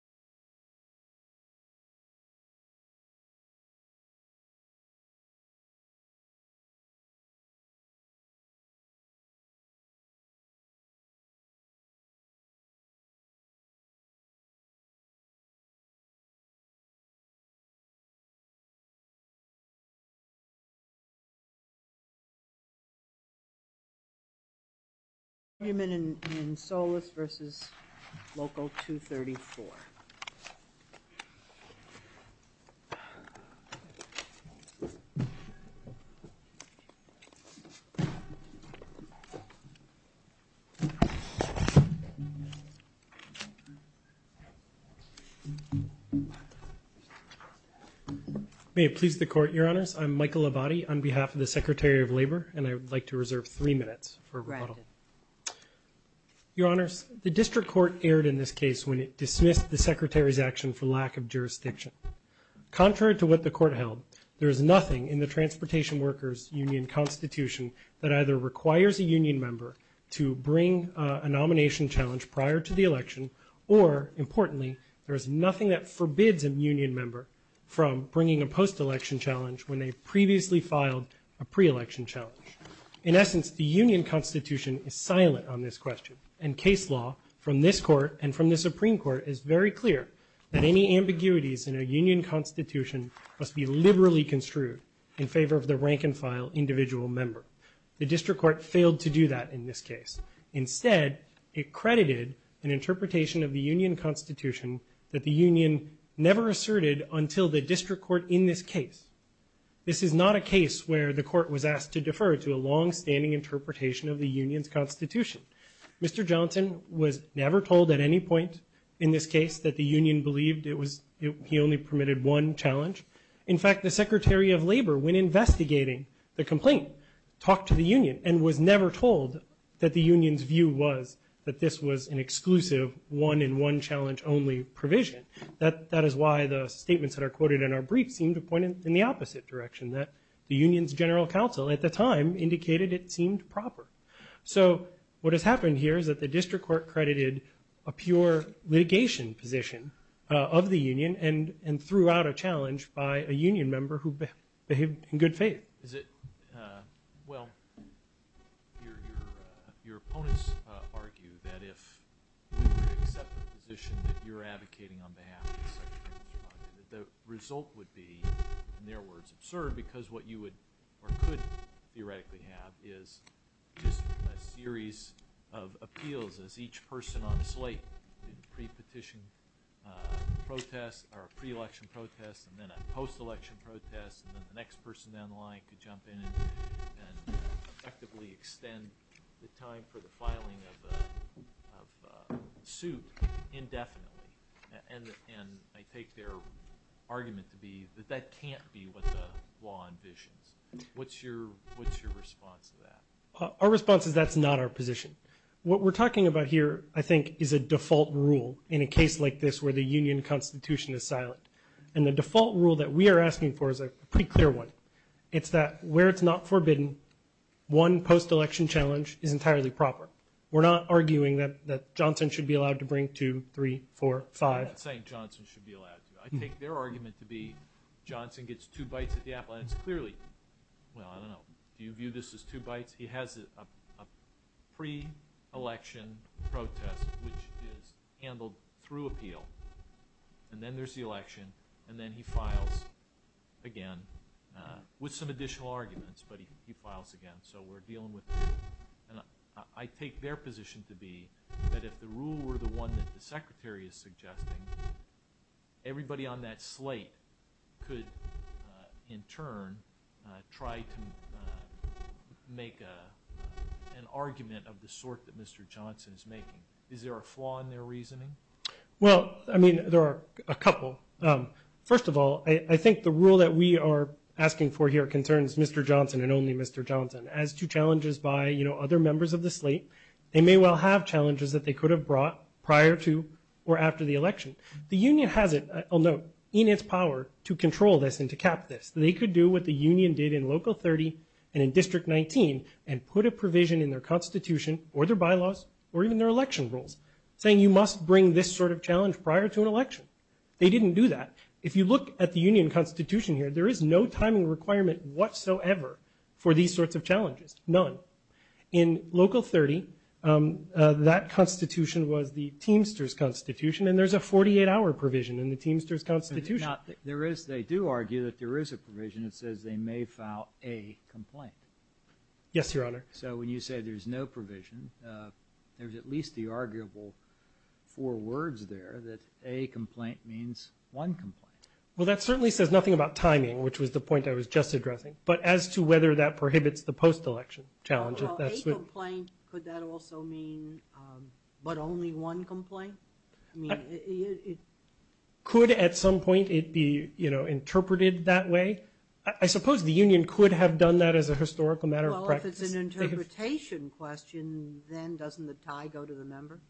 We have a motion to adjourn, a second to adjourn, a motion to adjourn, a second to adjourn, Payment in Solis versus local 234. May it please the court, your honors, I'm Michael Abati on behalf of the Secretary of Labor and I would like to reserve three minutes for a rebuttal. Your honors, the district court erred in this case when it dismissed the Secretary's action for lack of jurisdiction. Contrary to what the court held, there is nothing in the Transportation Workers Union Constitution that either requires a union member to bring a nomination challenge prior to the election or, importantly, there is nothing that forbids a union member from bringing a post-election challenge when they previously filed a pre-election challenge. In essence, the union constitution is silent on this question and case law from this court and from the Supreme Court is very clear that any ambiguities in a union constitution must be liberally construed in favor of the rank and file individual member. The district court failed to do that in this case. Instead, it credited an interpretation of the union constitution that the union never asserted until the district court in this case. This is not a case where the court was asked to defer to a longstanding interpretation of the union's constitution. Mr. Johnson was never told at any point in this case that the union believed he only permitted one challenge. In fact, the Secretary of Labor, when investigating the complaint, talked to the union and was never told that the union's view was that this was an exclusive one-and-one-challenge-only provision. That is why the statements that are quoted in our brief seem to point in the opposite direction, that the union's general counsel at the time indicated it seemed proper. So what has happened here is that the district court credited a pure litigation position of the union and threw out a challenge by a union member who behaved in good faith. Well, your opponents argue that if we were to accept the position that you're advocating on behalf of the Secretary of Labor, the result would be, in their words, absurd because what you would or could theoretically have is just a series of appeals as each person on a slate in pre-petition protests or pre-election protests and then a post-election protest and then the next person down the line could jump in and effectively extend the time for the filing of a suit indefinitely. And I take their argument to be that that can't be what the law envisions. What's your response to that? Our response is that's not our position. What we're talking about here, I think, is a default rule in a case like this where the union constitution is silent. And the default rule that we are asking for is a pretty clear one. It's that where it's not forbidden, one post-election challenge is entirely proper. We're not arguing that Johnson should be allowed to bring two, three, four, five. I'm not saying Johnson should be allowed to. I take their argument to be Johnson gets two bites at the apple and it's clearly – well, I don't know. Do you view this as two bites? He has a pre-election protest which is handled through appeal, and then there's the election, and then he files again with some additional arguments, but he files again. So we're dealing with two. And I take their position to be that if the rule were the one that the Secretary is suggesting, everybody on that slate could, in turn, try to make an argument of the sort that Mr. Johnson is making. Is there a flaw in their reasoning? Well, I mean, there are a couple. First of all, I think the rule that we are asking for here concerns Mr. Johnson and only Mr. Johnson. They may well have challenges that they could have brought prior to or after the election. The union has it, I'll note, in its power to control this and to cap this. They could do what the union did in Local 30 and in District 19 and put a provision in their constitution or their bylaws or even their election rules, saying you must bring this sort of challenge prior to an election. They didn't do that. If you look at the union constitution here, there is no timing requirement whatsoever for these sorts of challenges, none. In Local 30, that constitution was the Teamsters Constitution, and there's a 48-hour provision in the Teamsters Constitution. They do argue that there is a provision that says they may file a complaint. Yes, Your Honor. So when you say there's no provision, there's at least the arguable four words there, that a complaint means one complaint. Well, that certainly says nothing about timing, which was the point I was just addressing, but as to whether that prohibits the post-election challenge. A complaint, could that also mean but only one complaint? Could, at some point, it be interpreted that way? I suppose the union could have done that as a historical matter of practice. Well, if it's an interpretation question, then doesn't the tie go to the member?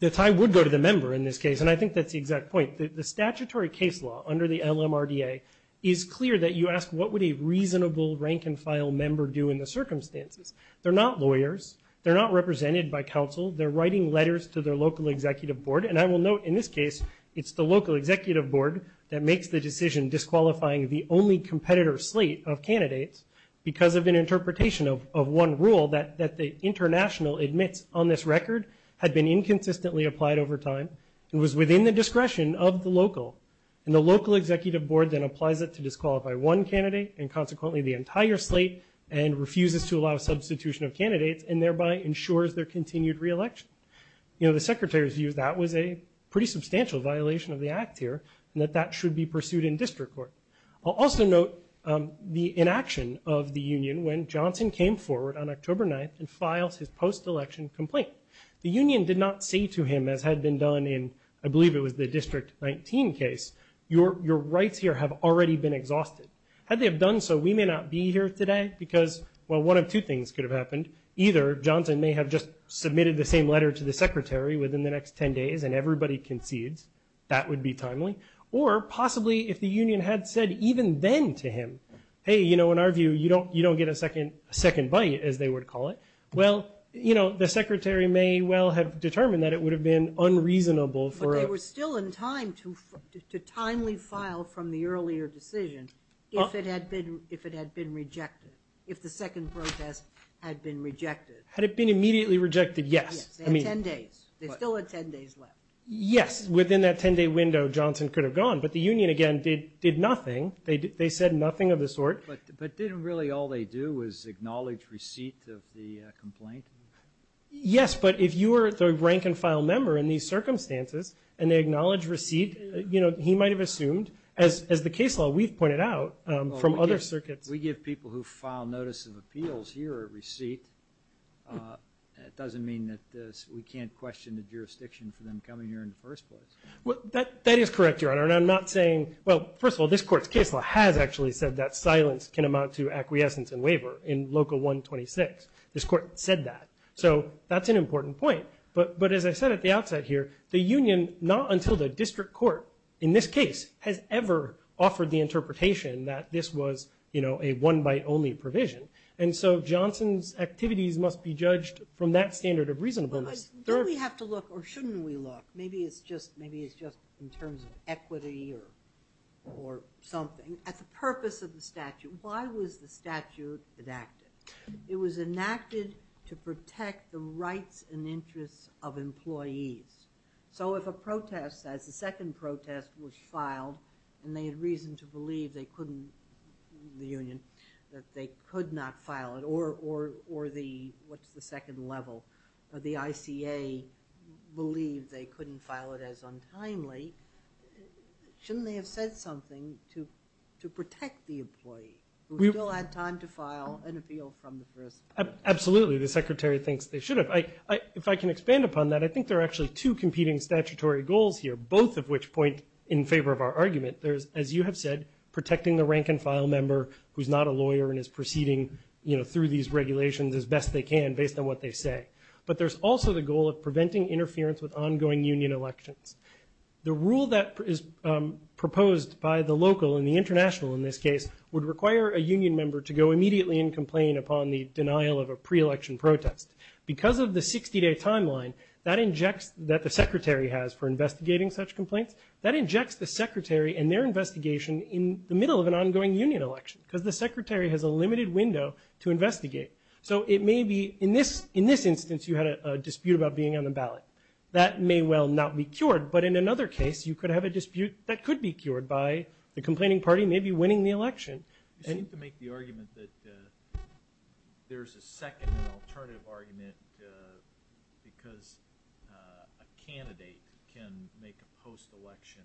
The tie would go to the member in this case, and I think that's the exact point. The statutory case law under the LMRDA is clear that you ask, what would a reasonable rank-and-file member do in the circumstances? They're not lawyers. They're not represented by counsel. They're writing letters to their local executive board, and I will note in this case, it's the local executive board that makes the decision disqualifying the only competitor slate of candidates because of an interpretation of one rule that the international admits on this record had been inconsistently applied over time. It was within the discretion of the local, and the local executive board then applies it to disqualify one candidate and consequently the entire slate and refuses to allow substitution of candidates and thereby ensures their continued re-election. You know, the secretary's view is that was a pretty substantial violation of the act here and that that should be pursued in district court. I'll also note the inaction of the union when Johnson came forward on October 9th and files his post-election complaint. The union did not say to him, as had been done in I believe it was the District 19 case, your rights here have already been exhausted. Had they have done so, we may not be here today because, well, one of two things could have happened. Either Johnson may have just submitted the same letter to the secretary within the next 10 days and everybody concedes. That would be timely. Or possibly if the union had said even then to him, hey, you know, in our view, you don't get a second bite as they would call it. Well, you know, the secretary may well have determined that it would have been unreasonable. But they were still in time to timely file from the earlier decision if it had been rejected, if the second protest had been rejected. Had it been immediately rejected, yes. Yes, they had 10 days. They still had 10 days left. Yes, within that 10-day window Johnson could have gone. But the union, again, did nothing. They said nothing of the sort. But didn't really all they do was acknowledge receipt of the complaint? Yes, but if you were the rank and file member in these circumstances and they acknowledge receipt, you know, he might have assumed, as the case law, we've pointed out from other circuits. We give people who file notice of appeals here a receipt. It doesn't mean that we can't question the jurisdiction for them coming here in the first place. That is correct, Your Honor. Well, first of all, this Court's case law has actually said that silence can amount to acquiescence and waiver in Local 126. This Court said that. So that's an important point. But as I said at the outset here, the union, not until the district court, in this case, has ever offered the interpretation that this was, you know, a one-by-only provision. And so Johnson's activities must be judged from that standard of reasonableness. Do we have to look or shouldn't we look? Maybe it's just in terms of equity or something. At the purpose of the statute, why was the statute enacted? It was enacted to protect the rights and interests of employees. So if a protest, as the second protest was filed, and they had reason to believe they couldn't, the union, that they could not file it, or the, what's the second level, the ICA believed they couldn't file it as untimely, shouldn't they have said something to protect the employee, who still had time to file an appeal from the first place? Absolutely. The Secretary thinks they should have. If I can expand upon that, I think there are actually two competing statutory goals here, both of which point in favor of our argument. As you have said, protecting the rank-and-file member who's not a lawyer and is proceeding through these regulations as best they can based on what they say. But there's also the goal of preventing interference with ongoing union elections. The rule that is proposed by the local, and the international in this case, would require a union member to go immediately and complain upon the denial of a pre-election protest. Because of the 60-day timeline that the Secretary has for investigating such complaints, that injects the Secretary and their investigation in the middle of an ongoing union election, because the Secretary has a limited window to investigate. So it may be, in this instance, you had a dispute about being on the ballot. That may well not be cured, but in another case, you could have a dispute that could be cured by the complaining party maybe winning the election. You seem to make the argument that there's a second and alternative argument because a candidate can make a post-election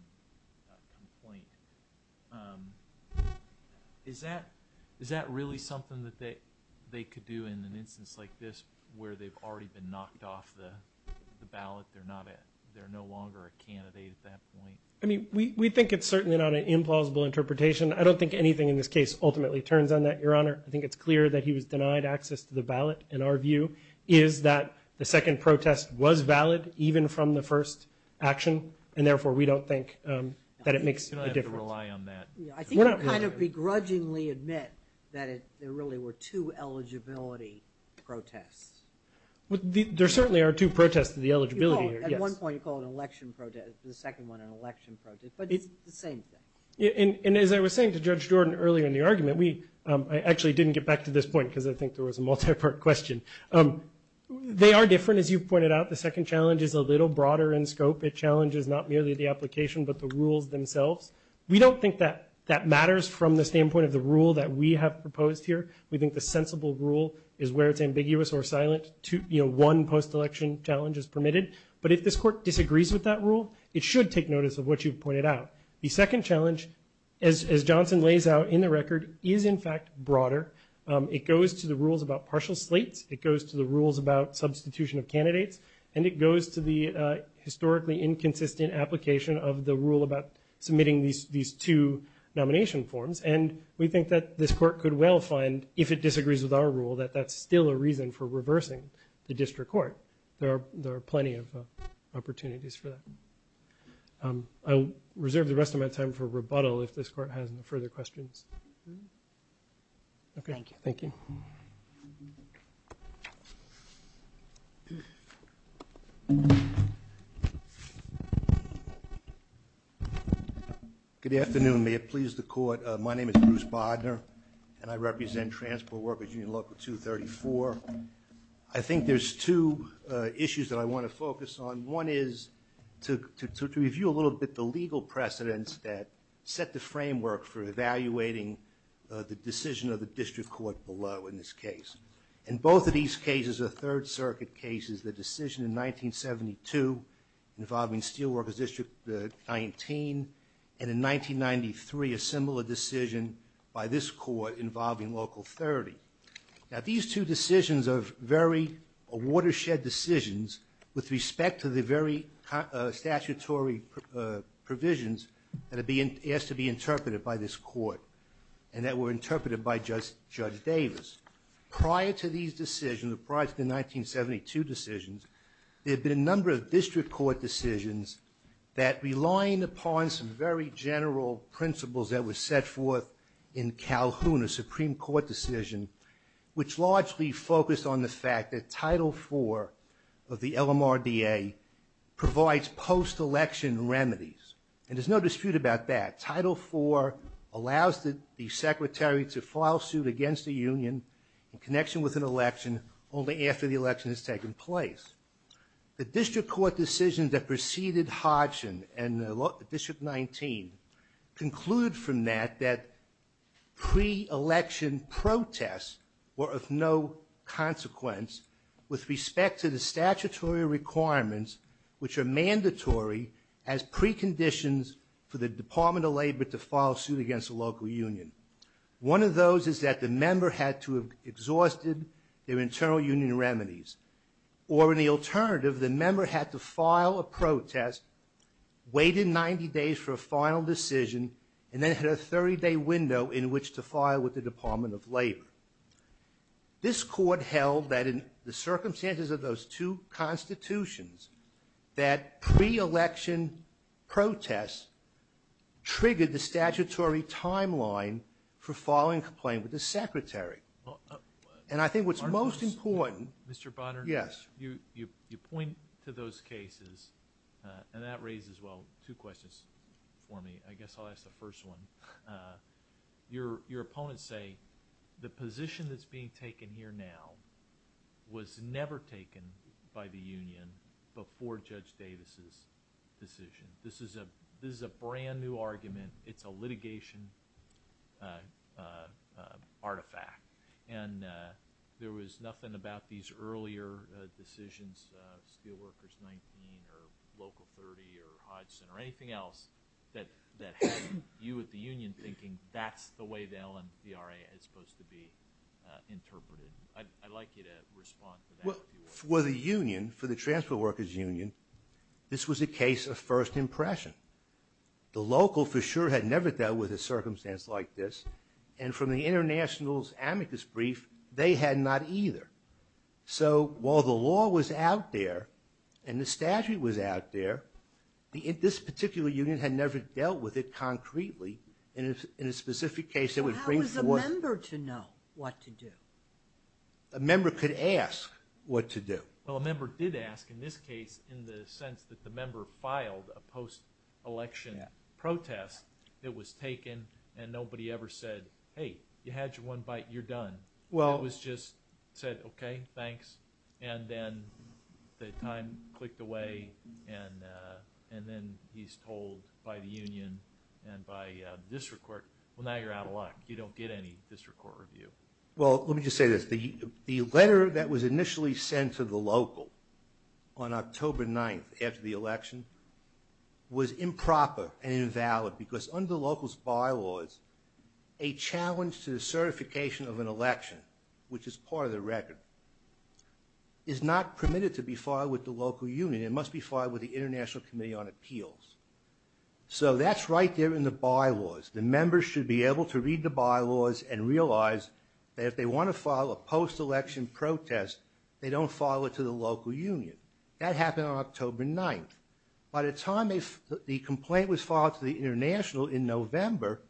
complaint. Is that really something that they could do in an instance like this where they've already been knocked off the ballot? They're no longer a candidate at that point? I mean, we think it's certainly not an implausible interpretation. I don't think anything in this case ultimately turns on that, Your Honor. I think it's clear that he was denied access to the ballot. And our view is that the second protest was valid even from the first action. And therefore, we don't think that it makes a difference. You don't have to rely on that. I think you kind of begrudgingly admit that there really were two eligibility protests. There certainly are two protests to the eligibility. At one point, you call it an election protest. The second one, an election protest. But it's the same thing. And as I was saying to Judge Jordan earlier in the argument, I actually didn't get back to this point because I think there was a multi-part question. They are different, as you pointed out. The second challenge is a little broader in scope. It challenges not merely the application but the rules themselves. We don't think that that matters from the standpoint of the rule that we have proposed here. We think the sensible rule is where it's ambiguous or silent. One post-election challenge is permitted. But if this Court disagrees with that rule, it should take notice of what you've pointed out. The second challenge, as Johnson lays out in the record, is, in fact, broader. It goes to the rules about partial slates. It goes to the rules about substitution of candidates. And it goes to the historically inconsistent application of the rule about submitting these two nomination forms. And we think that this Court could well find, if it disagrees with our rule, that that's still a reason for reversing the district court. There are plenty of opportunities for that. I'll reserve the rest of my time for rebuttal if this Court has no further questions. Okay, thank you. Good afternoon. May it please the Court. My name is Bruce Bodner, and I represent Transport Workers Union Local 234. I think there's two issues that I want to focus on. One is to review a little bit the legal precedents that set the framework for evaluating the decision of the district court below in this case. In both of these cases, the Third Circuit cases, the decision in 1972 involving Steelworkers District 19, and in 1993, a similar decision by this Court involving Local 30. Now, these two decisions are very watershed decisions with respect to the very statutory provisions that are asked to be interpreted by this Court, and that were interpreted by Judge Davis. Prior to these decisions, prior to the 1972 decisions, there have been a number of district court decisions that relying upon some very general principles that were set forth in Calhoun, a Supreme Court decision, which largely focused on the fact that Title IV of the LMRDA provides post-election remedies. And there's no dispute about that. Title IV allows the secretary to file suit against the union in connection with an election only after the election has taken place. The district court decisions that preceded Hodgson and District 19 concluded from that that pre-election protests were of no consequence with respect to the statutory requirements which are mandatory as preconditions for the Department of Labor to file suit against the local union. One of those is that the member had to have exhausted their internal union remedies. Or in the alternative, the member had to file a protest, waited 90 days for a final decision, and then had a 30-day window in which to file with the Department of Labor. This Court held that in the circumstances of those two constitutions that pre-election protests triggered the statutory timeline for filing a complaint with the secretary. And I think what's most important... And that raises, well, two questions for me. I guess I'll ask the first one. Your opponents say the position that's being taken here now was never taken by the union before Judge Davis's decision. This is a brand-new argument. It's a litigation artifact. And there was nothing about these earlier decisions, Steelworkers 19 or Local 30 or Hodgson or anything else, that had you at the union thinking that's the way the LMVRA is supposed to be interpreted. I'd like you to respond to that. Well, for the union, for the Transport Workers Union, this was a case of first impression. The local for sure had never dealt with a circumstance like this. And from the International's amicus brief, they had not either. So while the law was out there and the statute was out there, this particular union had never dealt with it concretely. In a specific case, it would bring forth... How was a member to know what to do? A member could ask what to do. Well, a member did ask, in this case, in the sense that the member filed a post-election protest that was taken and nobody ever said, hey, you had your one bite, you're done. It was just said, okay, thanks. And then the time clicked away and then he's told by the union and by the district court, well, now you're out of luck. You don't get any district court review. Well, let me just say this. The letter that was initially sent to the local on October 9th after the election was improper and invalid because under the local's bylaws, a challenge to the certification of an election, which is part of the record, is not permitted to be filed with the local union. It must be filed with the International Committee on Appeals. So that's right there in the bylaws. The members should be able to read the bylaws and realize that if they want to file a post-election protest, they don't file it to the local union. That happened on October 9th. By the time the complaint was filed to the International in November,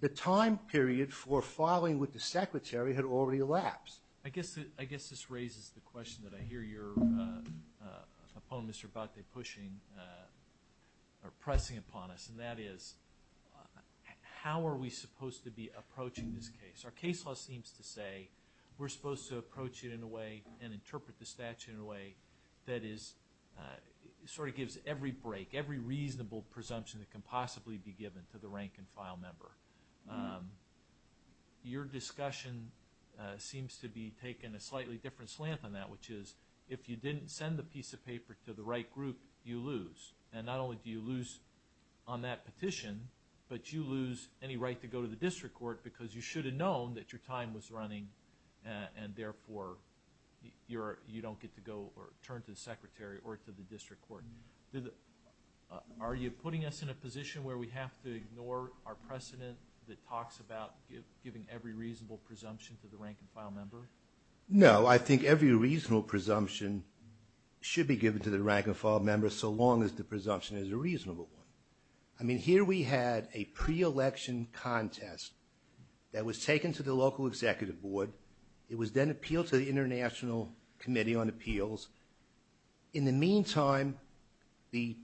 the time period for filing with the secretary had already elapsed. I guess this raises the question that I hear you're, Mr. Abate, pushing or pressing upon us, and that is how are we supposed to be approaching this case? Our case law seems to say we're supposed to approach it in a way and interpret the statute in a way that sort of gives every break, every reasonable presumption that can possibly be given to the rank-and-file member. Your discussion seems to be taking a slightly different slant than that, which is if you didn't send the piece of paper to the right group, you lose. Not only do you lose on that petition, but you lose any right to go to the district court because you should have known that your time was running and therefore you don't get to go or turn to the secretary or to the district court. Are you putting us in a position where we have to ignore our precedent that talks about giving every reasonable presumption to the rank-and-file member? No, I think every reasonable presumption should be given to the rank-and-file member so long as the presumption is a reasonable one. I mean, here we had a pre-election contest that was taken to the local executive board. It was then appealed to the International Committee on Appeals. In the meantime, the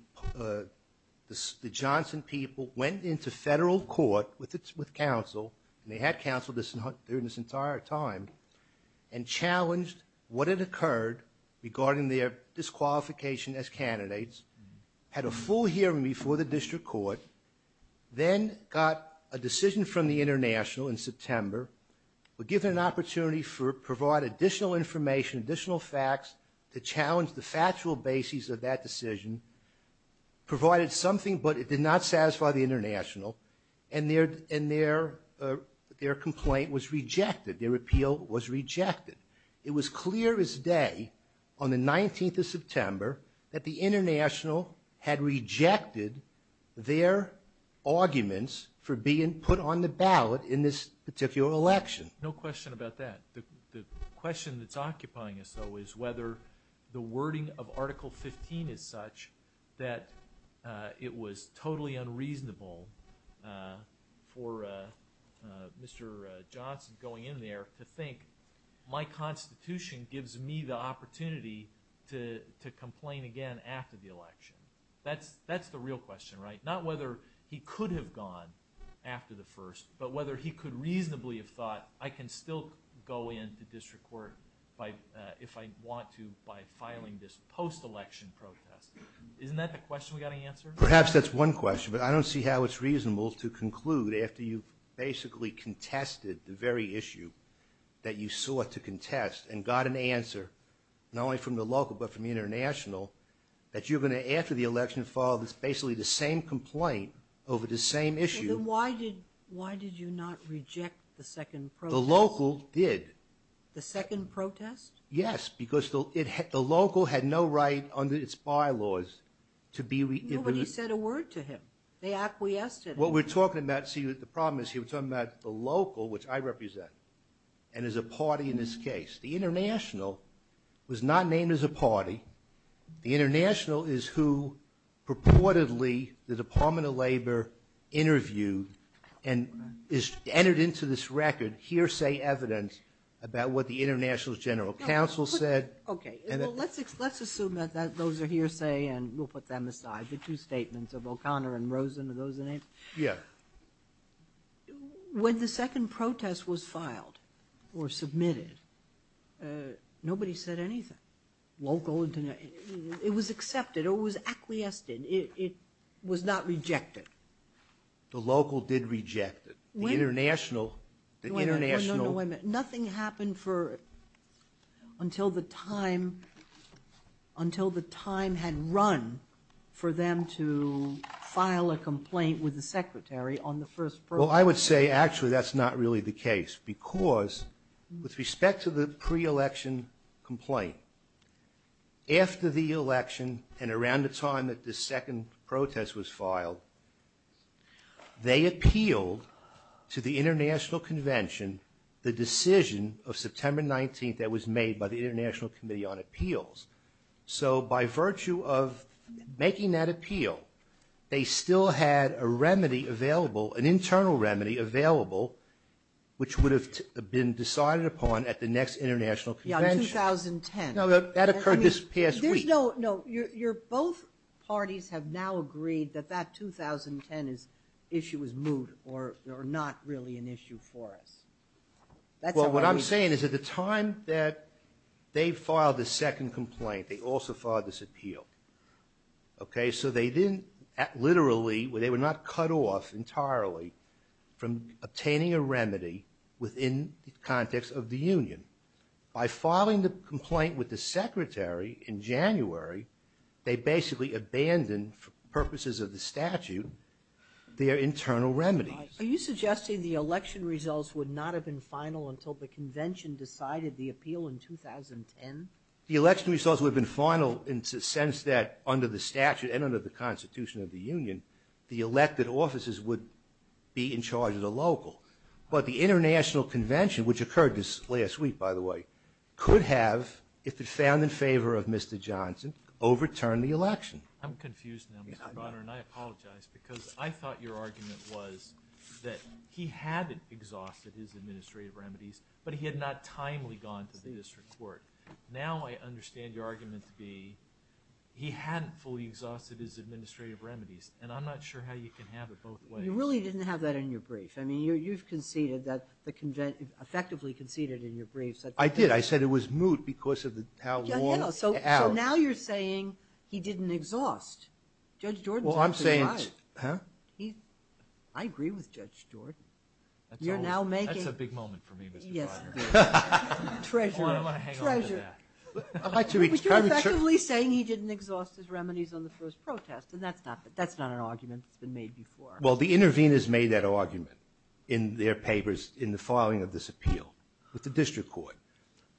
Johnson people went into federal court with counsel, and they had counsel during this entire time, and challenged what had occurred regarding their disqualification as candidates, had a full hearing before the district court, then got a decision from the International in September, were given an opportunity to provide additional information, additional facts to challenge the factual basis of that decision, provided something, but it did not satisfy the International, and their complaint was rejected. Their appeal was rejected. It was clear as day on the 19th of September that the International had rejected their arguments for being put on the ballot in this particular election. No question about that. The question that's occupying us, though, is whether the wording of Article 15 is such that it was totally unreasonable for Mr. Johnson going in there to think, my constitution gives me the opportunity to complain again after the election. That's the real question, right? Not whether he could have gone after the first, but whether he could reasonably have thought, I can still go into district court if I want to by filing this post-election protest. Isn't that the question we've got to answer? Perhaps that's one question, but I don't see how it's reasonable to conclude after you've basically contested the very issue that you sought to contest and got an answer, not only from the local but from the International, that you're going to, after the election, file basically the same complaint over the same issue. Then why did you not reject the second protest? The local did. The second protest? Yes, because the local had no right under its bylaws to be... Nobody said a word to him. They acquiesced to that. What we're talking about, see, the problem is you're talking about the local, which I represent, and is a party in this case. The International was not named as a party. The International is who purportedly the Department of Labor interviewed and entered into this record hearsay evidence about what the International's general counsel said. Okay, well, let's assume that those are hearsay and we'll put them aside. I have the two statements of O'Connor and Rosen, are those the names? Yeah. When the second protest was filed or submitted, nobody said anything, local, International. It was accepted. It was acquiesced. It was not rejected. The local did reject it. The International... No, no, no, wait a minute. had run for them to file a complaint with the Secretary on the first protest. Well, I would say actually that's not really the case because with respect to the pre-election complaint, after the election and around the time that the second protest was filed, they appealed to the International Convention the decision of September 19th that was made by the International Committee on Appeals. So by virtue of making that appeal, they still had a remedy available, an internal remedy available, which would have been decided upon at the next International Convention. Yeah, in 2010. No, that occurred this past week. No, both parties have now agreed that that 2010 issue was moot or not really an issue for us. Well, what I'm saying is at the time that they filed the second complaint, they also filed this appeal. Okay, so they didn't... literally, they were not cut off entirely from obtaining a remedy within the context of the Union. By filing the complaint with the Secretary in January, they basically abandoned, for purposes of the statute, their internal remedies. Are you suggesting the election results would not have been final until the Convention decided the appeal in 2010? The election results would have been final in the sense that under the statute and under the Constitution of the Union, the elected officers would be in charge of the local. But the International Convention, which occurred this last week, by the way, could have, if it found in favor of Mr. Johnson, overturned the election. I'm confused now, Mr. Bonner, and I apologize because I thought your argument was that he hadn't exhausted his administrative remedies, but he had not timely gone to the district court. Now I understand your argument to be he hadn't fully exhausted his administrative remedies, and I'm not sure how you can have it both ways. You really didn't have that in your brief. I mean, you've conceded that the Convention... effectively conceded in your brief... I did. I said it was moot because of how long... So now you're saying he didn't exhaust. Well, I'm saying... I agree with Judge Jordan. You're now making... That's a big moment for me, Mr. Bonner. Treasure, treasure. But you're effectively saying he didn't exhaust his remedies on the first protest, and that's not an argument that's been made before. Well, the interveners made that argument in their papers in the filing of this appeal with the district court,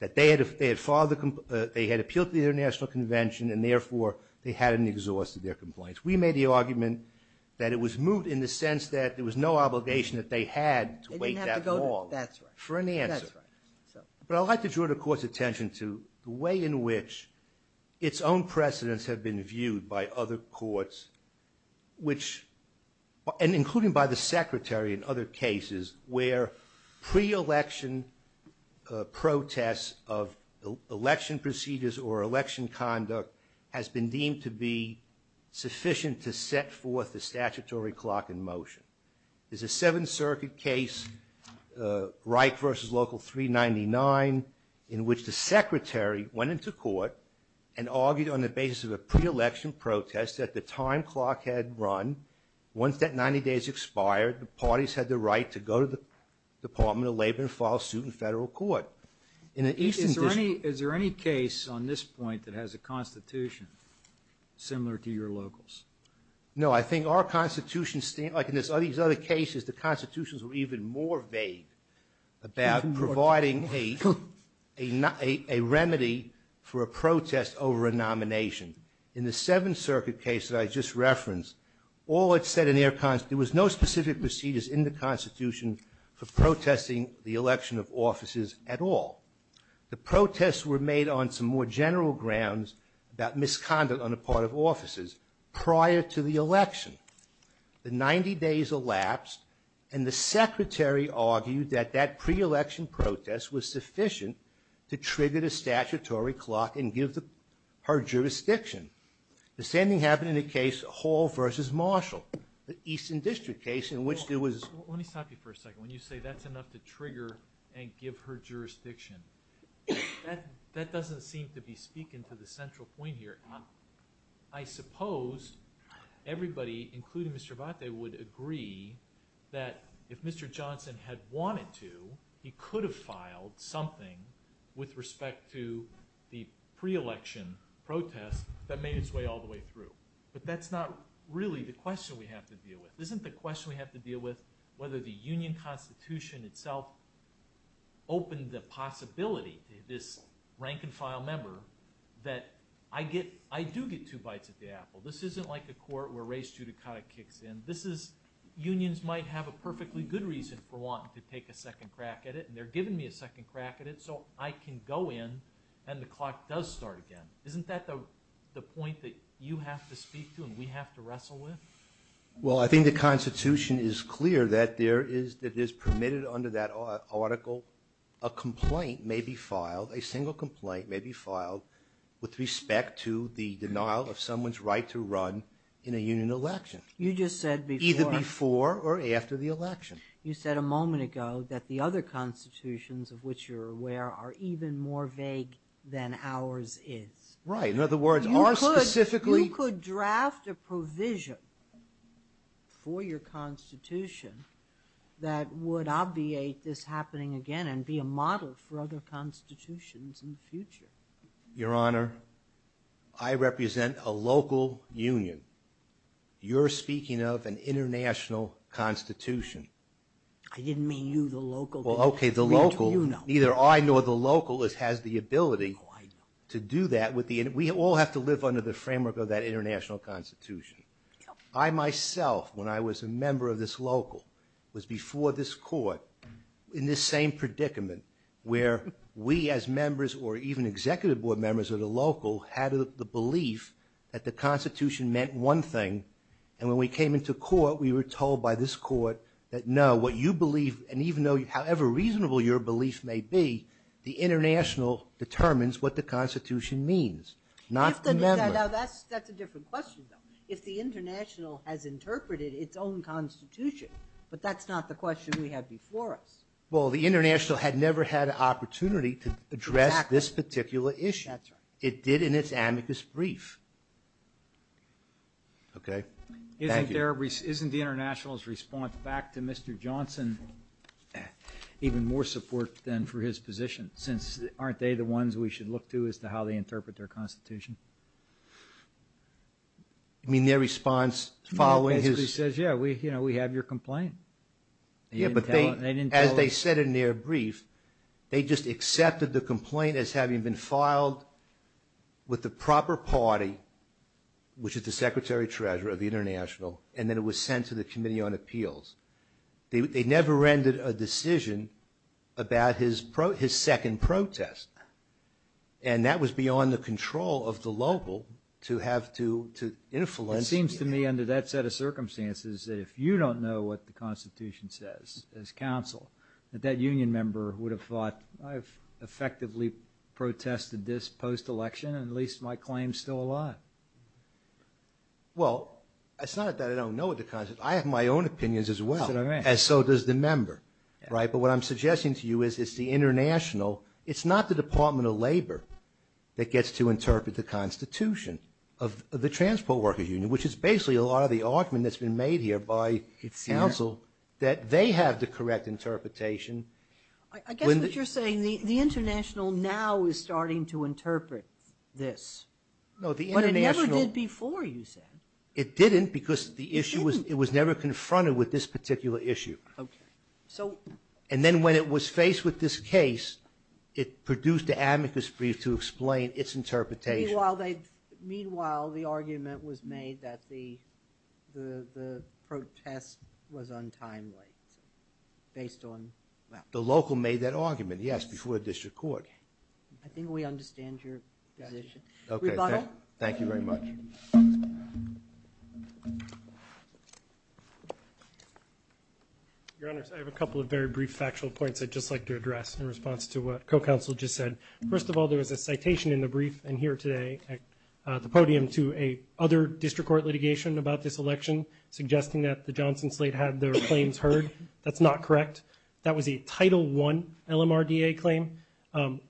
that they had appealed to the International Convention and therefore they hadn't exhausted their complaints. We made the argument that it was moot in the sense that there was no obligation that they had to wait that long for an answer. That's right. But I'd like to draw the Court's attention to the way in which its own precedents have been viewed by other courts, which... and including by the Secretary in other cases, where pre-election protests of election procedures or election conduct has been deemed to be sufficient to set forth the statutory clock in motion. There's a Seventh Circuit case, Reich v. Local 399, in which the Secretary went into court and argued on the basis of a pre-election protest that the time clock had run. Once that 90 days expired, the parties had the right to go to the Department of Labor and file suit in federal court. Is there any case on this point that has a Constitution similar to your locals? No, I think our Constitution... Like in these other cases, the Constitutions were even more vague about providing a remedy for a protest over a nomination. In the Seventh Circuit case that I just referenced, all it said in their Constitution... There was no specific procedures in the Constitution for protesting the election of officers at all. The protests were made on some more general grounds about misconduct on the part of officers prior to the election. The 90 days elapsed, and the Secretary argued that that pre-election protest was sufficient to trigger the statutory clock and give her jurisdiction. The same thing happened in the case Hall v. Marshall, the Eastern District case in which there was... Let me stop you for a second. When you say that's enough to trigger and give her jurisdiction, that doesn't seem to be speaking to the central point here. I suppose everybody, including Mr. Abate, would agree that if Mr. Johnson had wanted to, he could have filed something with respect to the pre-election protest that made its way all the way through. But that's not really the question we have to deal with. Isn't the question we have to deal with whether the Union Constitution itself opened the possibility to this rank-and-file member that I do get two bites at the apple. This isn't like a court where race judicata kicks in. Unions might have a perfectly good reason for wanting to take a second crack at it, and they're giving me a second crack at it so I can go in and the clock does start again. Isn't that the point that you have to speak to and we have to wrestle with? Well, I think the Constitution is clear that it is permitted under that article a complaint may be filed, a single complaint may be filed with respect to the denial of someone's right to run in a Union election. You just said before. Either before or after the election. You said a moment ago that the other constitutions of which you're aware are even more vague than ours is. Right, in other words, ours specifically... for your Constitution that would obviate this happening again and be a model for other constitutions in the future. Your Honor, I represent a local union. You're speaking of an international Constitution. I didn't mean you, the local. Well, okay, the local. Neither I nor the local has the ability to do that. We all have to live under the framework of that international Constitution. I, myself, when I was a member of this local was before this court in this same predicament where we as members or even executive board members of the local had the belief that the Constitution meant one thing and when we came into court we were told by this court that no, what you believe and even though however reasonable your belief may be the international determines what the Constitution means, not the member. That's a different question, though. If the international has interpreted its own Constitution but that's not the question we had before us. Well, the international had never had an opportunity to address this particular issue. It did in its amicus brief. Okay, thank you. Isn't the international's response back to Mr. Johnson even more support than for his position since aren't they the ones we should look to as to how they interpret their Constitution? You mean their response following his... No, it basically says, yeah, we have your complaint. Yeah, but as they said in their brief they just accepted the complaint as having been filed with the proper party which is the Secretary-Treasurer of the international and then it was sent to the Committee on Appeals. They never rendered a decision about his second protest and that was beyond the control of the local to have to influence... It seems to me under that set of circumstances that if you don't know what the Constitution says as counsel that that union member would have thought I've effectively protested this post-election and at least my claim's still alive. Well, it's not that I don't know what the Constitution... I have my own opinions as well. That's what I meant. And so does the member, right? But what I'm suggesting to you is it's the international... It's not the Department of Labor that gets to interpret the Constitution of the Transport Worker Union which is basically a lot of the argument that's been made here by counsel that they have the correct interpretation. I guess what you're saying the international now is starting to interpret this. No, the international... But it never did before, you said. It didn't because the issue was... It was never confronted with this particular issue. Okay, so... And then when it was faced with this case it produced an amicus brief to explain its interpretation. Meanwhile, the argument was made that the protest was untimely based on... The local made that argument, yes, before the district court. I think we understand your position. Rebuttal? Thank you very much. Your Honor, I have a couple of very brief factual points I'd just like to address in response to what co-counsel just said. First of all, there was a citation in the brief in here today at the podium to a other district court litigation about this election suggesting that the Johnson slate had their claims heard. That's not correct. That was a Title I LMRDA claim.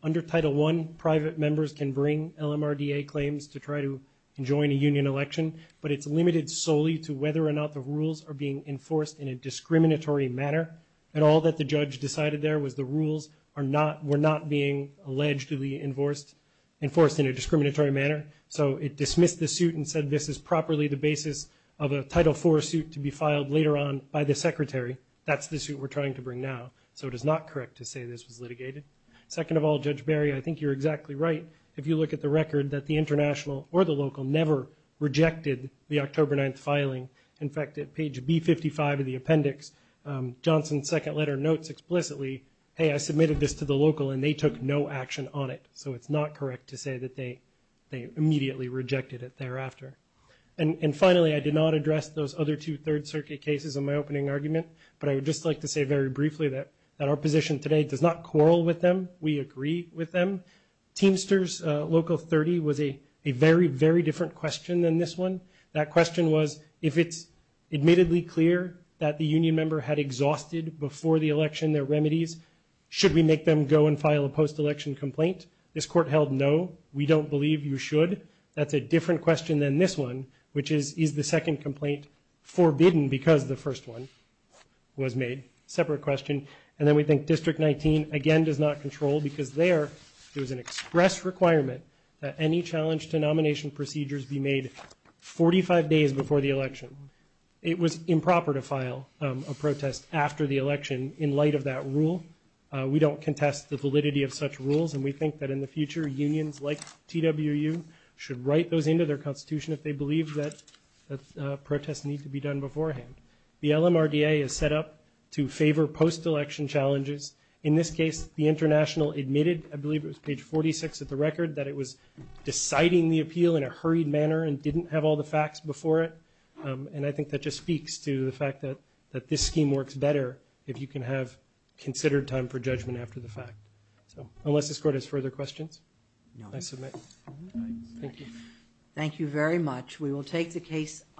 Under Title I, private members can bring LMRDA claims to try to enjoin a union election, but it's limited solely to whether or not the rules are being enforced in a discriminatory manner. And all that the judge decided there was the rules were not being allegedly enforced in a discriminatory manner. So it dismissed the suit and said, this is properly the basis of a Title IV suit to be filed later on by the Secretary. That's the suit we're trying to bring now. So it is not correct to say this was litigated. Second of all, Judge Barry, I think you're exactly right if you look at the record that the international or the local never rejected the October 9th filing. In fact, at page B55 of the appendix, Johnson's second letter notes explicitly, hey, I submitted this to the local and they took no action on it. So it's not correct to say that they immediately rejected it thereafter. And finally, I did not address those other two Third Circuit cases in my opening argument, but I would just like to say very briefly that our position today does not quarrel with them. We agree with them. Teamsters Local 30 was a very, very different question than this one. That question was, if it's admittedly clear that the union member had exhausted before the election their remedies, should we make them go and file a post-election complaint? This court held, no, we don't believe you should. That's a different question than this one, which is, is the second complaint forbidden because the first one was made? Separate question. And then we think District 19, again, does not control because there, there was an express requirement that any challenge to nomination procedures be made 45 days before the election. It was improper to file a protest after the election in light of that rule. We don't contest the validity of such rules and we think that in the future, unions like TWU should write those into their constitution if they believe that protests need to be done beforehand. The LMRDA is set up to favor post-election challenges. In this case, the international admitted, I believe it was page 46 of the record, that it was deciding the appeal in a hurried manner and didn't have all the facts before it. And I think that just speaks to the fact that this scheme works better if you can have considered time for judgment after the fact. Unless this court has further questions? I submit. Thank you. Thank you very much. We will take the case under review.